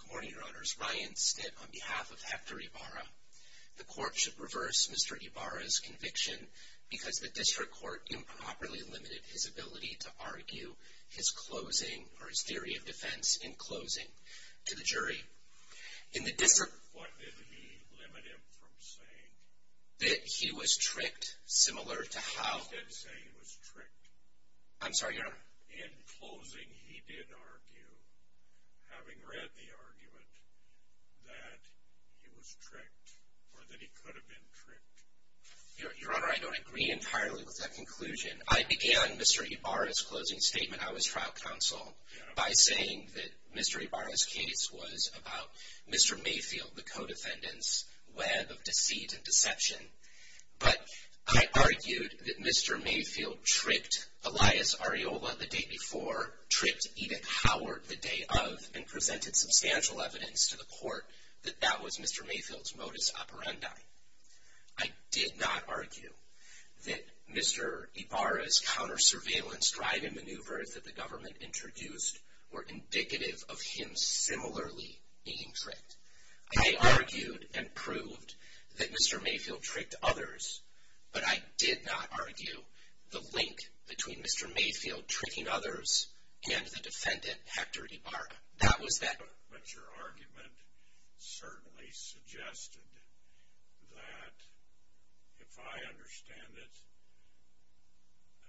Good morning, Your Honors. Ryan Snipp on behalf of Hector Ibarra. The court should reverse Mr. Ibarra's conviction because the district court improperly limited his ability to argue his theory of defense in closing to the jury. What did he limit him from saying? That he was tricked similar to how... He did say he was tricked. I'm sorry, Your Honor. In closing, he did argue, having read the argument, that he was tricked or that he could have been tricked. Your Honor, I don't agree entirely with that conclusion. I began Mr. Ibarra's closing statement, I was trial counsel, by saying that Mr. Ibarra's case was about Mr. Mayfield. But I argued that Mr. Mayfield tricked Elias Areola the day before, tricked Edith Howard the day of, and presented substantial evidence to the court that that was Mr. Mayfield's modus operandi. I did not argue that Mr. Ibarra's counter-surveillance drive and maneuvers that the government introduced were indicative of him similarly being tricked. I argued and But I did not argue the link between Mr. Mayfield tricking others and the defendant, Hector Ibarra. That was that. But your argument certainly suggested that if I understand it,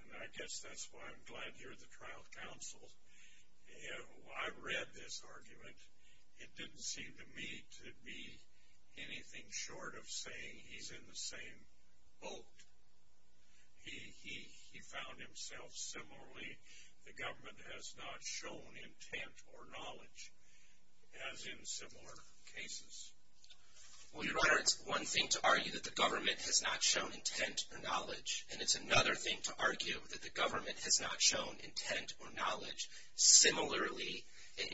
and I guess that's why I'm glad you're the trial counsel, if I read this argument, it didn't seem to me to be anything short of saying he's in the same boat. He found himself similarly, the government has not shown intent or knowledge, as in similar cases. Well, your Honor, it's one thing to argue that the government has not shown intent or knowledge, and it's another thing to argue that the government has not shown intent or knowledge. Similarly,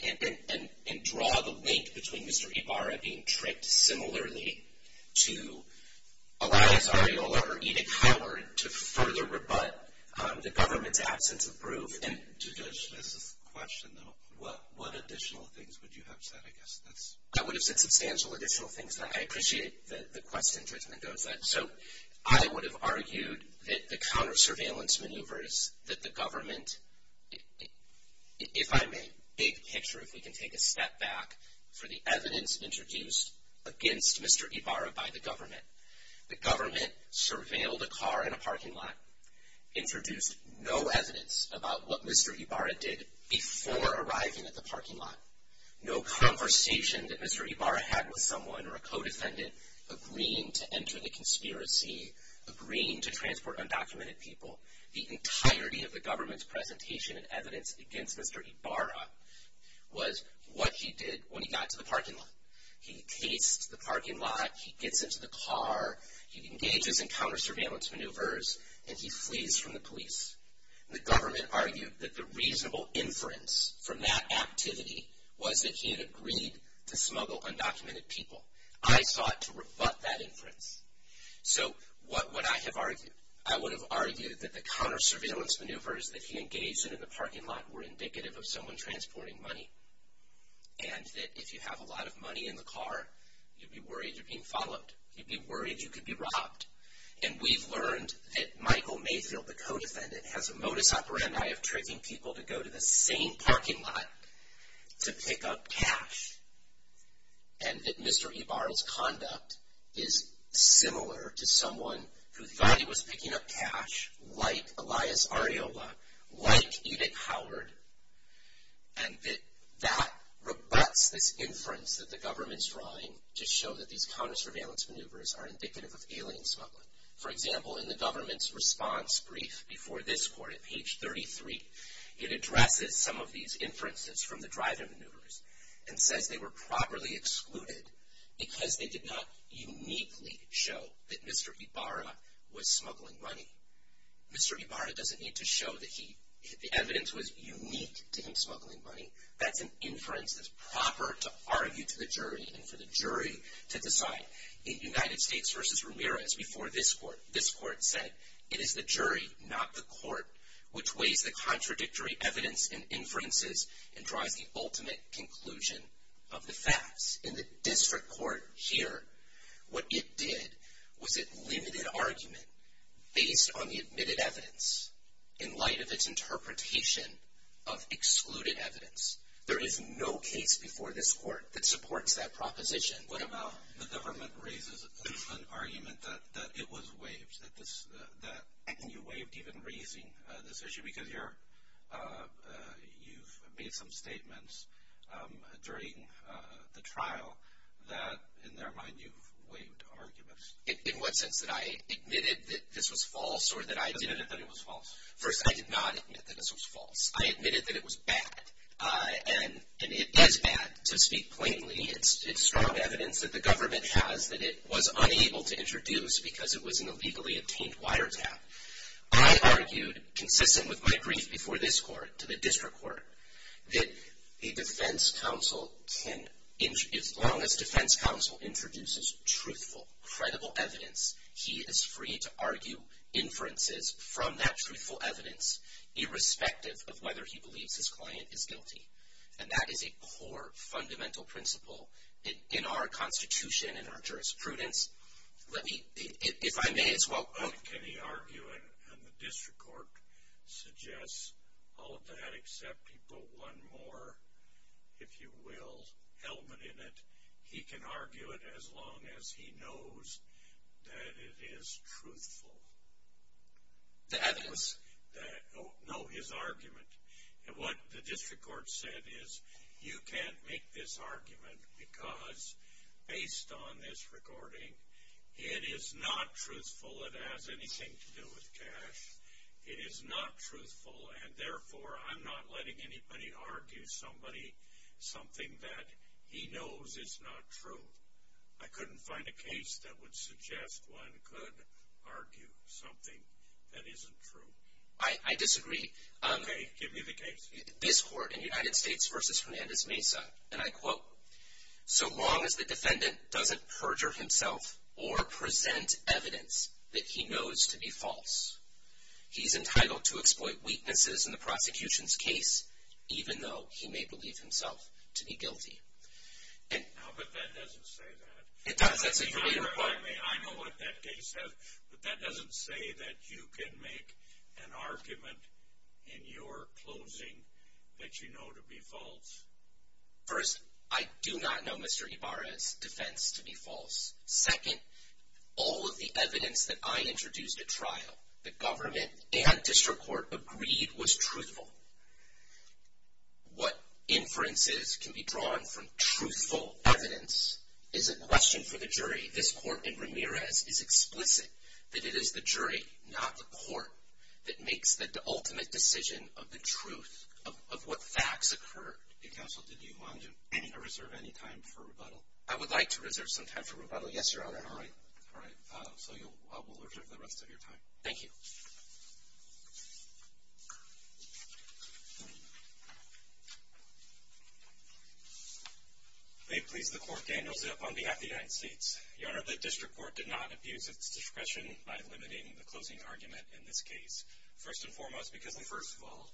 and draw the link between Mr. Ibarra being tricked similarly to Elias Arreola or Edith Howard to further rebut the government's absence of proof. And to judge this question, though, what additional things would you have said? I guess that's. I would have said substantial additional things. I appreciate the question, Judge Mendoza. So I would have argued that the counter-surveillance maneuvers that the government, if I'm a big picture, if we can take a step back for the evidence introduced against Mr. Ibarra by the government. The government surveilled a car in a parking lot, introduced no evidence about what Mr. Ibarra did before arriving at the parking lot. No conversation that Mr. Ibarra had with someone or a co-defendant agreeing to enter the conspiracy, agreeing to transport undocumented people. The entirety of the government's presentation and evidence against Mr. Ibarra was what he did when he got to the parking lot. He chased the parking lot, he gets into the car, he engages in counter-surveillance maneuvers, and he flees from the police. The government argued that the reasonable inference from that activity was that he had agreed to smuggle undocumented people. I sought to rebut that inference. So what would I have argued? I would have argued that the counter-surveillance maneuvers that he engaged in in the parking lot were indicative of someone transporting money. And that if you have a lot of money in the car, you'd be worried you're being followed. You'd be worried you could be robbed. And we've learned that Michael Mayfield, the co-defendant, has a modus operandi of tricking people to go to the same parking lot to pick up cash. And that Mr. Ibarra's conduct is similar to someone who thought he was picking up cash, like Elias Areola, like Edith Howard, and that that rebuts this inference that the government's drawing to show that these counter-surveillance maneuvers are indicative of alien smuggling. For example, in the government's response brief before this court, at page 33, it addresses some of these inferences from the driving maneuvers and says they were properly excluded because they did not uniquely show that Mr. Ibarra was smuggling money. Mr. Ibarra doesn't need to show that the evidence was unique to him smuggling money. That's an inference that's proper to argue to the jury and for the jury to decide. In United States v. Ramirez, before this court, this court said, it is the jury, not the court, which weighs the contradictory evidence and inferences and provides the ultimate conclusion of the facts. In the district court here, what it did was it limited argument based on the admitted evidence in light of its interpretation of excluded evidence. There is no case before this court that supports that proposition. What about the government raises an argument that it was waived, that you waived even raising this issue because you've made some statements during the trial that, in their mind, you've waived arguments? In what sense? That I admitted that this was false or that I did? You admitted that it was false. First, I did not admit that this was false. I admitted that it was bad, and it is bad, to speak plainly. It's strong evidence that the government has that it was unable to introduce because it was an illegally obtained wiretap. I argued, consistent with my brief before this court, to the district court, that the defense counsel can, as long as defense counsel introduces truthful, credible evidence, he is free to argue inferences from that truthful evidence, irrespective of whether he believes his client is guilty. And that is a core, fundamental principle in our Constitution, in our jurisprudence. Let me, if I may as well... But can he argue, and the district court suggests all of that, except he put one more, if you will, element in it. He can argue it as long as he knows that it is truthful. The evidence? No, his argument. And what the district court said is, you can't make this argument because, based on this recording, it is not truthful. It has anything to do with cash. It is not truthful, and therefore, I'm not letting anybody argue something that he knows is not true. I couldn't find a case that would suggest one could argue something that isn't true. I disagree. Okay, give me the case. This court, in United States v. Hernandez Mesa, and I quote, So long as the defendant doesn't perjure himself or present evidence that he knows to be false, he's entitled to exploit weaknesses in the prosecution's case, even though he may believe himself to be guilty. No, but that doesn't say that. It does, that's a clear point. I mean, I know what that case says, but that doesn't say that you can make an argument in your closing that you know to be false. First, I do not know Mr. Ibarra's defense to be false. Second, all of the evidence that I introduced at trial, the government and district court agreed was truthful. What inferences can be drawn from truthful evidence is a question for the jury. This court in Ramirez is explicit that it is the jury, not the court, that makes the ultimate decision of the truth of what facts occurred. Counsel, did you want to reserve any time for rebuttal? I would like to reserve some time for rebuttal, yes, Your Honor. All right, so we'll reserve the rest of your time. Thank you. May it please the court, Daniel Zip on behalf of the United States. Your Honor, the district court did not abuse its discretion by limiting the closing argument in this case, first and foremost because... First of all,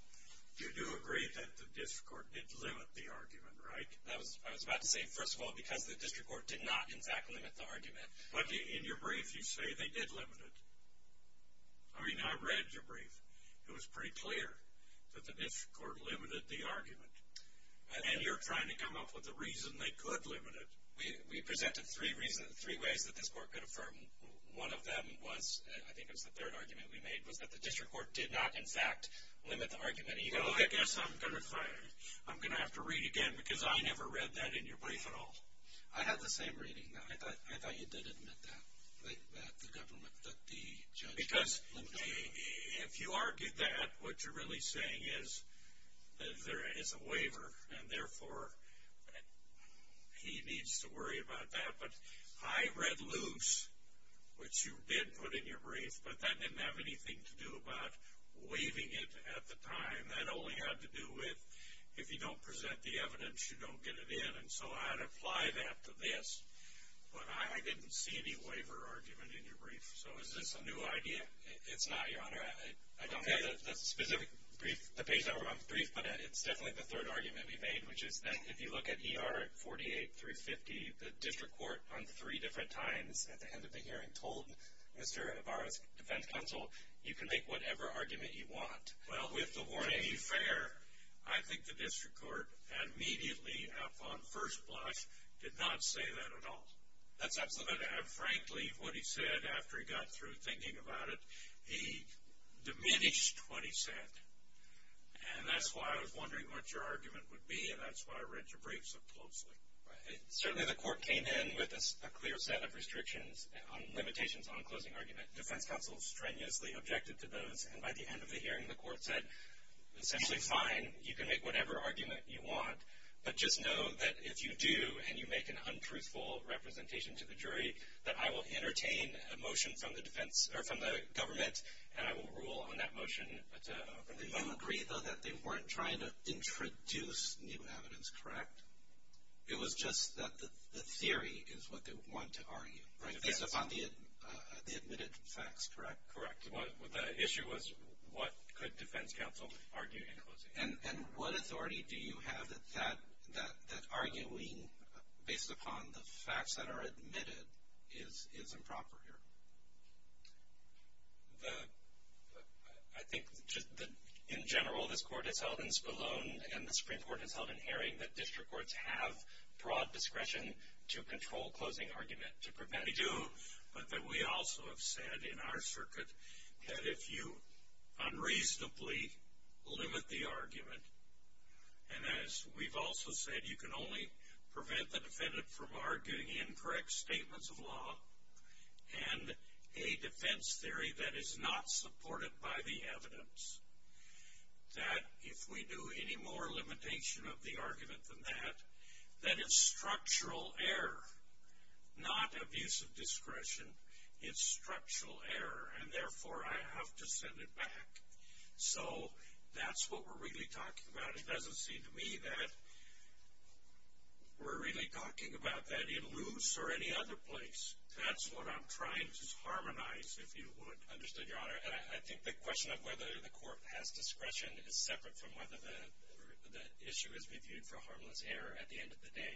you do agree that the district court did limit the argument, right? I was about to say, first of all, because the district court did not in fact limit the argument. But in your brief, you say they did limit it. I mean, I read your brief. It was pretty clear that the district court limited the argument. And you're trying to come up with a reason they could limit it. We presented three ways that this court could affirm. One of them was, I think it was the third argument we made, was that the district court did not in fact limit the argument. I guess I'm going to have to read again because I never read that in your brief at all. I had the same reading. I thought you did admit that, that the government, that the judge... Because if you argue that, what you're really saying is that there is a waiver, and therefore he needs to worry about that. But I read loose, which you did put in your brief, but that didn't have anything to do about waiving it at the time. That only had to do with if you don't present the evidence, you don't get it in. And so I'd apply that to this, but I didn't see any waiver argument in your brief. So is this a new idea? It's not, Your Honor. I don't have the specific brief, the page number on the brief, but it's definitely the third argument we made, which is that if you look at ER 48 through 50, the district court on three different times at the end of the hearing told Mr. Ibarra's defense counsel, you can make whatever argument you want. Well, with the warning... To be fair, I think the district court, immediately upon first blush, did not say that at all. That's absolutely right. Frankly, what he said after he got through thinking about it, he diminished what he said. And that's why I was wondering what your argument would be, and that's why I read your brief so closely. Certainly the court came in with a clear set of restrictions on limitations on closing argument. Defense counsel strenuously objected to those, and by the end of the hearing the court said, essentially fine, you can make whatever argument you want, but just know that if you do and you make an untruthful representation to the jury, that I will entertain a motion from the government and I will rule on that motion. You agree, though, that they weren't trying to introduce new evidence, correct? It was just that the theory is what they want to argue, right? Based upon the admitted facts, correct? Correct. The issue was what could defense counsel argue in closing argument. And what authority do you have that arguing based upon the facts that are admitted is improper here? I think in general this court has held in Spallone and the Supreme Court has held in Herring that district courts have broad discretion to control closing argument to prevent it. They do. But that we also have said in our circuit that if you unreasonably limit the argument, and as we've also said, you can only prevent the defendant from arguing incorrect statements of law and a defense theory that is not supported by the evidence, that if we do any more limitation of the argument than that, that it's structural error, not abuse of discretion. It's structural error, and therefore I have to send it back. So that's what we're really talking about. It doesn't seem to me that we're really talking about that in loose or any other place. That's what I'm trying to harmonize, if you would. Understood, Your Honor. And I think the question of whether the court has discretion is separate from whether the issue is reviewed for harmless error at the end of the day.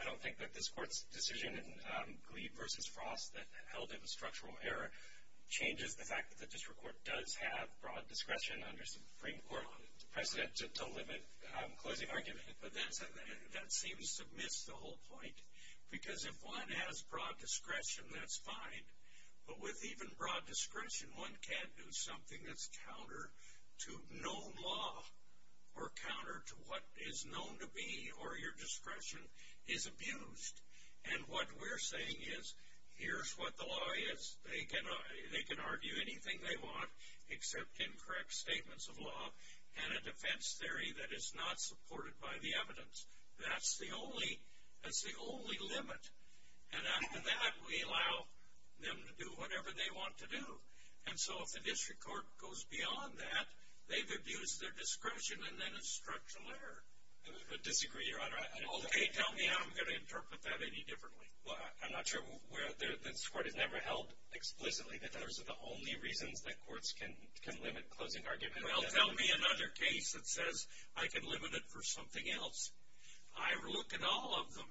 I don't think that this court's decision in Glebe v. Frost that held it was structural error changes the fact that the district court does have broad discretion under Supreme Court precedent to limit closing argument. But that seems to miss the whole point, because if one has broad discretion, that's fine. But with even broad discretion, one can't do something that's counter to known law or counter to what is known to be or your discretion is abused. And what we're saying is, here's what the law is. They can argue anything they want except incorrect statements of law and a defense theory that is not supported by the evidence. That's the only limit. And after that, we allow them to do whatever they want to do. And so if the district court goes beyond that, they've abused their discretion and then it's structural error. I disagree, Your Honor. Okay, tell me how I'm going to interpret that any differently. Well, I'm not sure. This court has never held explicitly that those are the only reasons that courts can limit closing argument. Well, tell me another case that says I can limit it for something else. I've looked at all of them.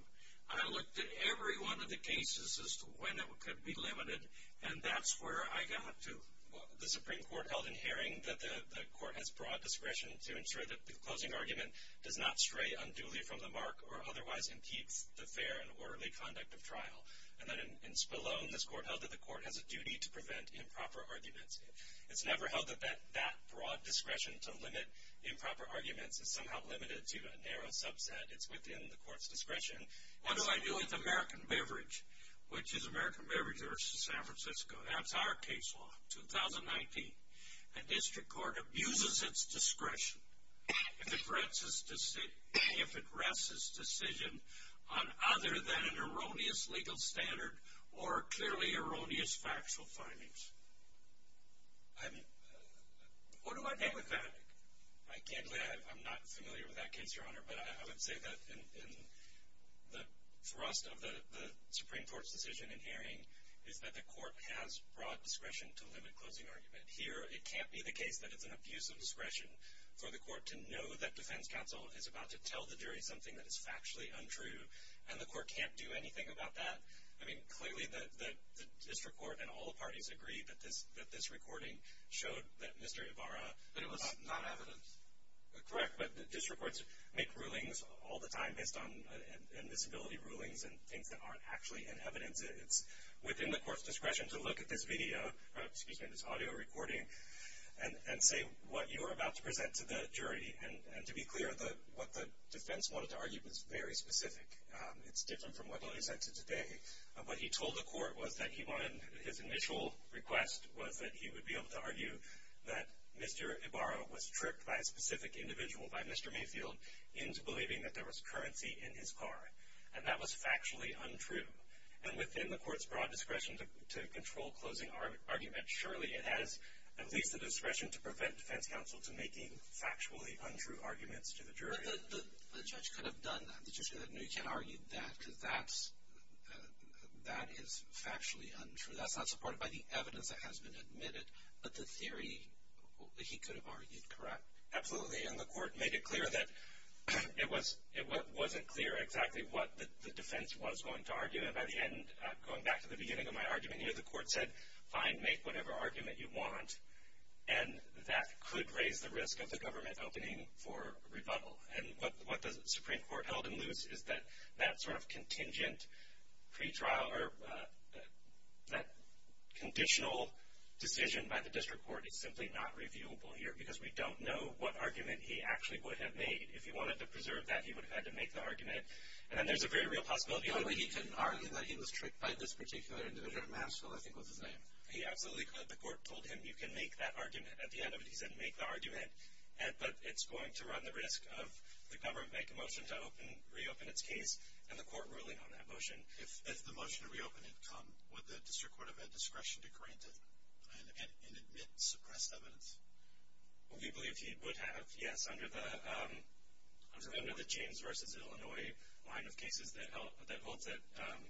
I looked at every one of the cases as to when it could be limited, and that's where I got to. Well, the Supreme Court held in Haring that the court has broad discretion to ensure that the closing argument does not stray unduly from the mark or otherwise impedes the fair and orderly conduct of trial. And then in Spillone, this court held that the court has a duty to prevent improper arguments. It's never held that that broad discretion to limit improper arguments is somehow limited to a narrow subset. It's within the court's discretion. What do I do with American Beverage, which is American Beverage versus San Francisco? That's our case law, 2019. A district court abuses its discretion if it rests its decision on other than an erroneous legal standard or clearly erroneous factual findings. What do I do with that? I'm not familiar with that case, Your Honor, but I would say that in the thrust of the Supreme Court's decision in Haring is that the court has broad discretion to limit closing argument. Here, it can't be the case that it's an abuse of discretion for the court to know that defense counsel is about to tell the jury something that is factually untrue, and the court can't do anything about that. I mean, clearly the district court and all the parties agree that this recording showed that Mr. Ibarra was not evidence. Correct, but district courts make rulings all the time based on admissibility rulings and things that aren't actually in evidence. It's within the court's discretion to look at this video, excuse me, this audio recording, and say what you are about to present to the jury. And to be clear, what the defense wanted to argue was very specific. It's different from what Lily said to today. What he told the court was that he wanted his initial request was that he would be able to argue that Mr. Ibarra was tricked by a specific individual, by Mr. Mayfield, into believing that there was currency in his car. And that was factually untrue. And within the court's broad discretion to control closing argument, surely it has at least the discretion to prevent defense counsel from making factually untrue arguments to the jury. But the judge could have done that. The judge could have said, no, you can't argue that because that is factually untrue. That's not supported by the evidence that has been admitted. But the theory, he could have argued correct. Absolutely. And the court made it clear that it wasn't clear exactly what the defense was going to argue. And by the end, going back to the beginning of my argument here, the court said, fine, make whatever argument you want. And that could raise the risk of the government opening for rebuttal. And what the Supreme Court held in loose is that that sort of contingent pretrial or that conditional decision by the district court is simply not reviewable here because we don't know what argument he actually would have made. If he wanted to preserve that, he would have had to make the argument. And then there's a very real possibility. He couldn't argue that he was tricked by this particular individual. Mansfield, I think, was his name. He absolutely could. The court told him, you can make that argument. At the end of it, he said, make the argument. But it's going to run the risk of the government making a motion to reopen its case and the court ruling on that motion. If the motion to reopen had come, would the district court have had discretion to grant it and admit suppressed evidence? We believe he would have, yes, under the James v. Illinois line of cases that holds it.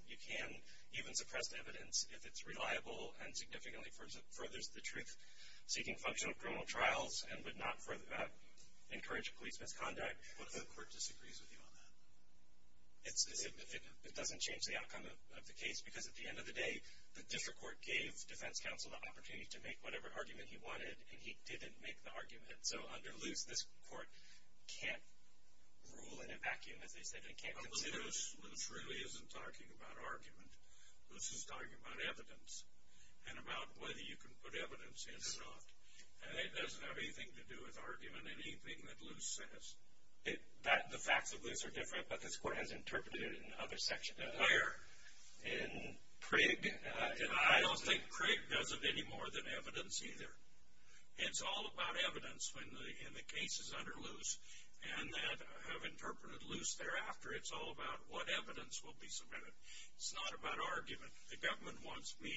You can even suppress evidence if it's reliable and significantly furthers the truth-seeking function of criminal trials and would not encourage police misconduct. What if the court disagrees with you on that? If it doesn't change the outcome of the case, because at the end of the day, the district court gave defense counsel the opportunity to make whatever argument he wanted, and he didn't make the argument. So under loose, this court can't rule in a vacuum, as they said, and can't consider it. Loose really isn't talking about argument. Loose is talking about evidence and about whether you can put evidence in or not. And it doesn't have anything to do with argument, anything that loose says. The facts of loose are different, but this court has interpreted it in other sections. In Craig? I don't think Craig does it any more than evidence either. It's all about evidence when the case is under loose, and that I have interpreted loose thereafter. It's all about what evidence will be submitted. It's not about argument. The government wants me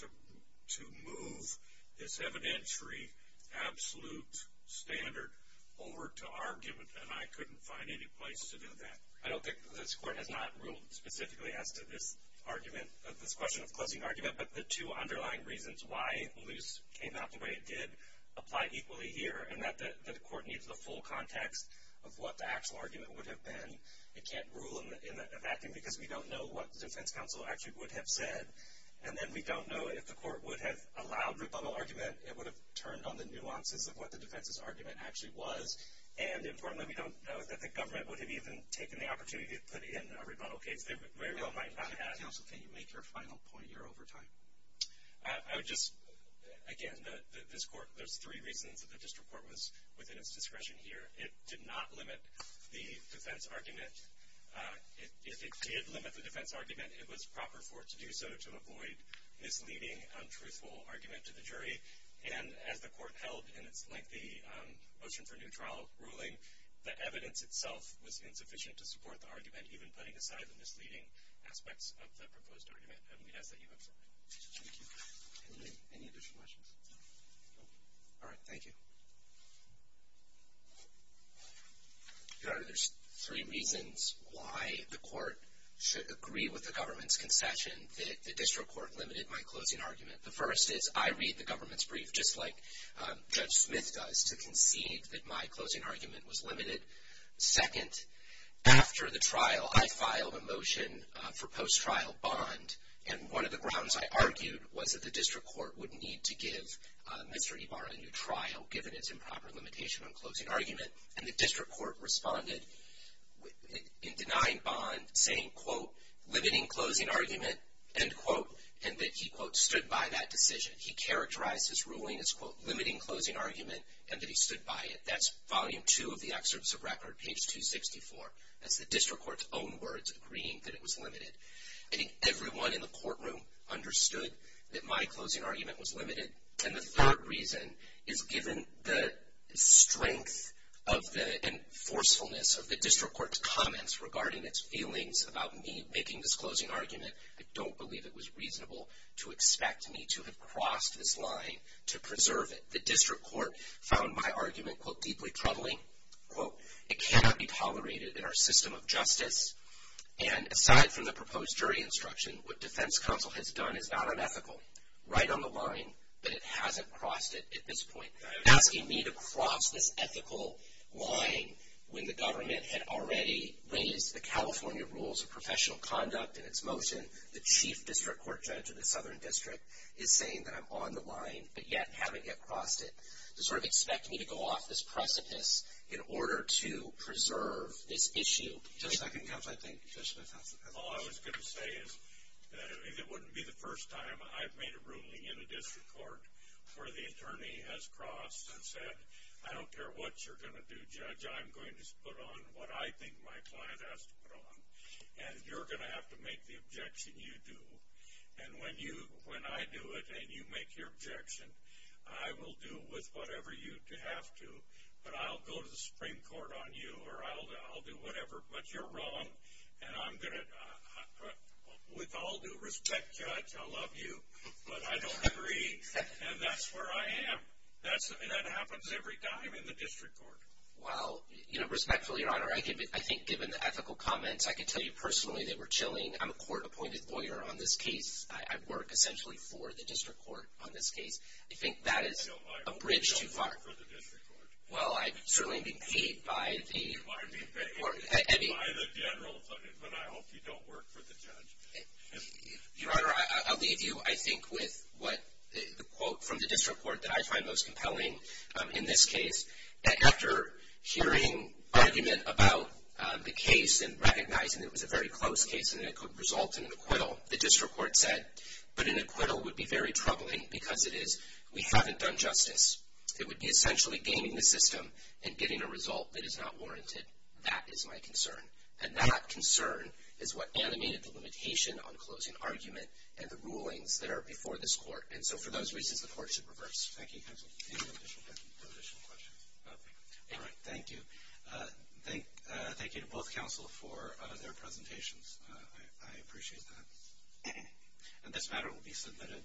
to move this evidentiary absolute standard over to argument, and I couldn't find any place to do that. I don't think this court has not ruled specifically as to this argument, this question of closing argument, but the two underlying reasons why loose came out the way it did apply equally here, and that the court needs the full context of what the actual argument would have been. It can't rule in a vacuum because we don't know what the defense counsel actually would have said. And then we don't know if the court would have allowed rebuttal argument. It would have turned on the nuances of what the defense's argument actually was. And importantly, we don't know that the government would have even taken the opportunity to put in a rebuttal case. They very well might not have. Counsel, can you make your final point? You're over time. I would just, again, this court, there's three reasons that the district court was within its discretion here. It did not limit the defense argument. If it did limit the defense argument, it was proper for it to do so to avoid misleading, untruthful argument to the jury. And as the court held in its lengthy motion for new trial ruling, the evidence itself was insufficient to support the argument, even putting aside the misleading aspects of the proposed argument. And we ask that you accept that. Thank you. Any additional questions? All right. Thank you. Your Honor, there's three reasons why the court should agree with the government's concession that the district court limited my closing argument. The first is I read the government's brief, just like Judge Smith does, to concede that my closing argument was limited. Second, after the trial, I filed a motion for post-trial bond, and one of the grounds I argued was that the district court would need to give Mr. Ibarra a new trial, given its improper limitation on closing argument. And the district court responded in denying bond, saying, quote, limiting closing argument, end quote, and that he, quote, stood by that decision. He characterized his ruling as, quote, limiting closing argument and that he stood by it. That's volume two of the excerpts of record, page 264. That's the district court's own words agreeing that it was limited. I think everyone in the courtroom understood that my closing argument was limited. And the third reason is given the strength of the enforcefulness of the district court's comments regarding its feelings about me making this closing argument, I don't believe it was reasonable to expect me to have crossed this line to preserve it. The district court found my argument, quote, deeply troubling. Quote, it cannot be tolerated in our system of justice. And aside from the proposed jury instruction, what defense counsel has done is not unethical, right on the line, but it hasn't crossed it at this point. Asking me to cross this ethical line when the government had already raised the California rules of professional conduct and its motion, the chief district court judge of the southern district is saying that I'm on the line but yet haven't yet crossed it to sort of expect me to go off this precipice in order to preserve this issue. Just second counsel, I think. Judge Smith has the floor. All I was going to say is that it wouldn't be the first time I've made a ruling in a district court where the attorney has crossed and said, I don't care what you're going to do, judge, I'm going to put on what I think my client has to put on, and you're going to have to make the objection you do. And when I do it and you make your objection, I will do with whatever you have to, but I'll go to the Supreme Court on you, or I'll do whatever, but you're wrong, and I'm going to, with all due respect, judge, I love you, but I don't agree, and that's where I am. That happens every time in the district court. Well, you know, respectfully, your honor, I think given the ethical comments, I can tell you personally they were chilling. I'm a court-appointed lawyer on this case. I work essentially for the district court on this case. I think that is a bridge too far. Well, I'd certainly be paid by the general, but I hope you don't work for the judge. Your honor, I'll leave you, I think, with the quote from the district court that I find most compelling in this case, that after hearing argument about the case and recognizing it was a very close case and it could result in an acquittal, the district court said, but an acquittal would be very troubling because it is, we haven't done justice. It would be essentially gaming the system and getting a result that is not warranted. That is my concern, and that concern is what animated the limitation on closing argument and the rulings that are before this court, and so for those reasons, the court should reverse. Thank you, counsel. Any additional questions? All right, thank you. Thank you to both counsel for their presentations. I appreciate that. And this matter will be submitted.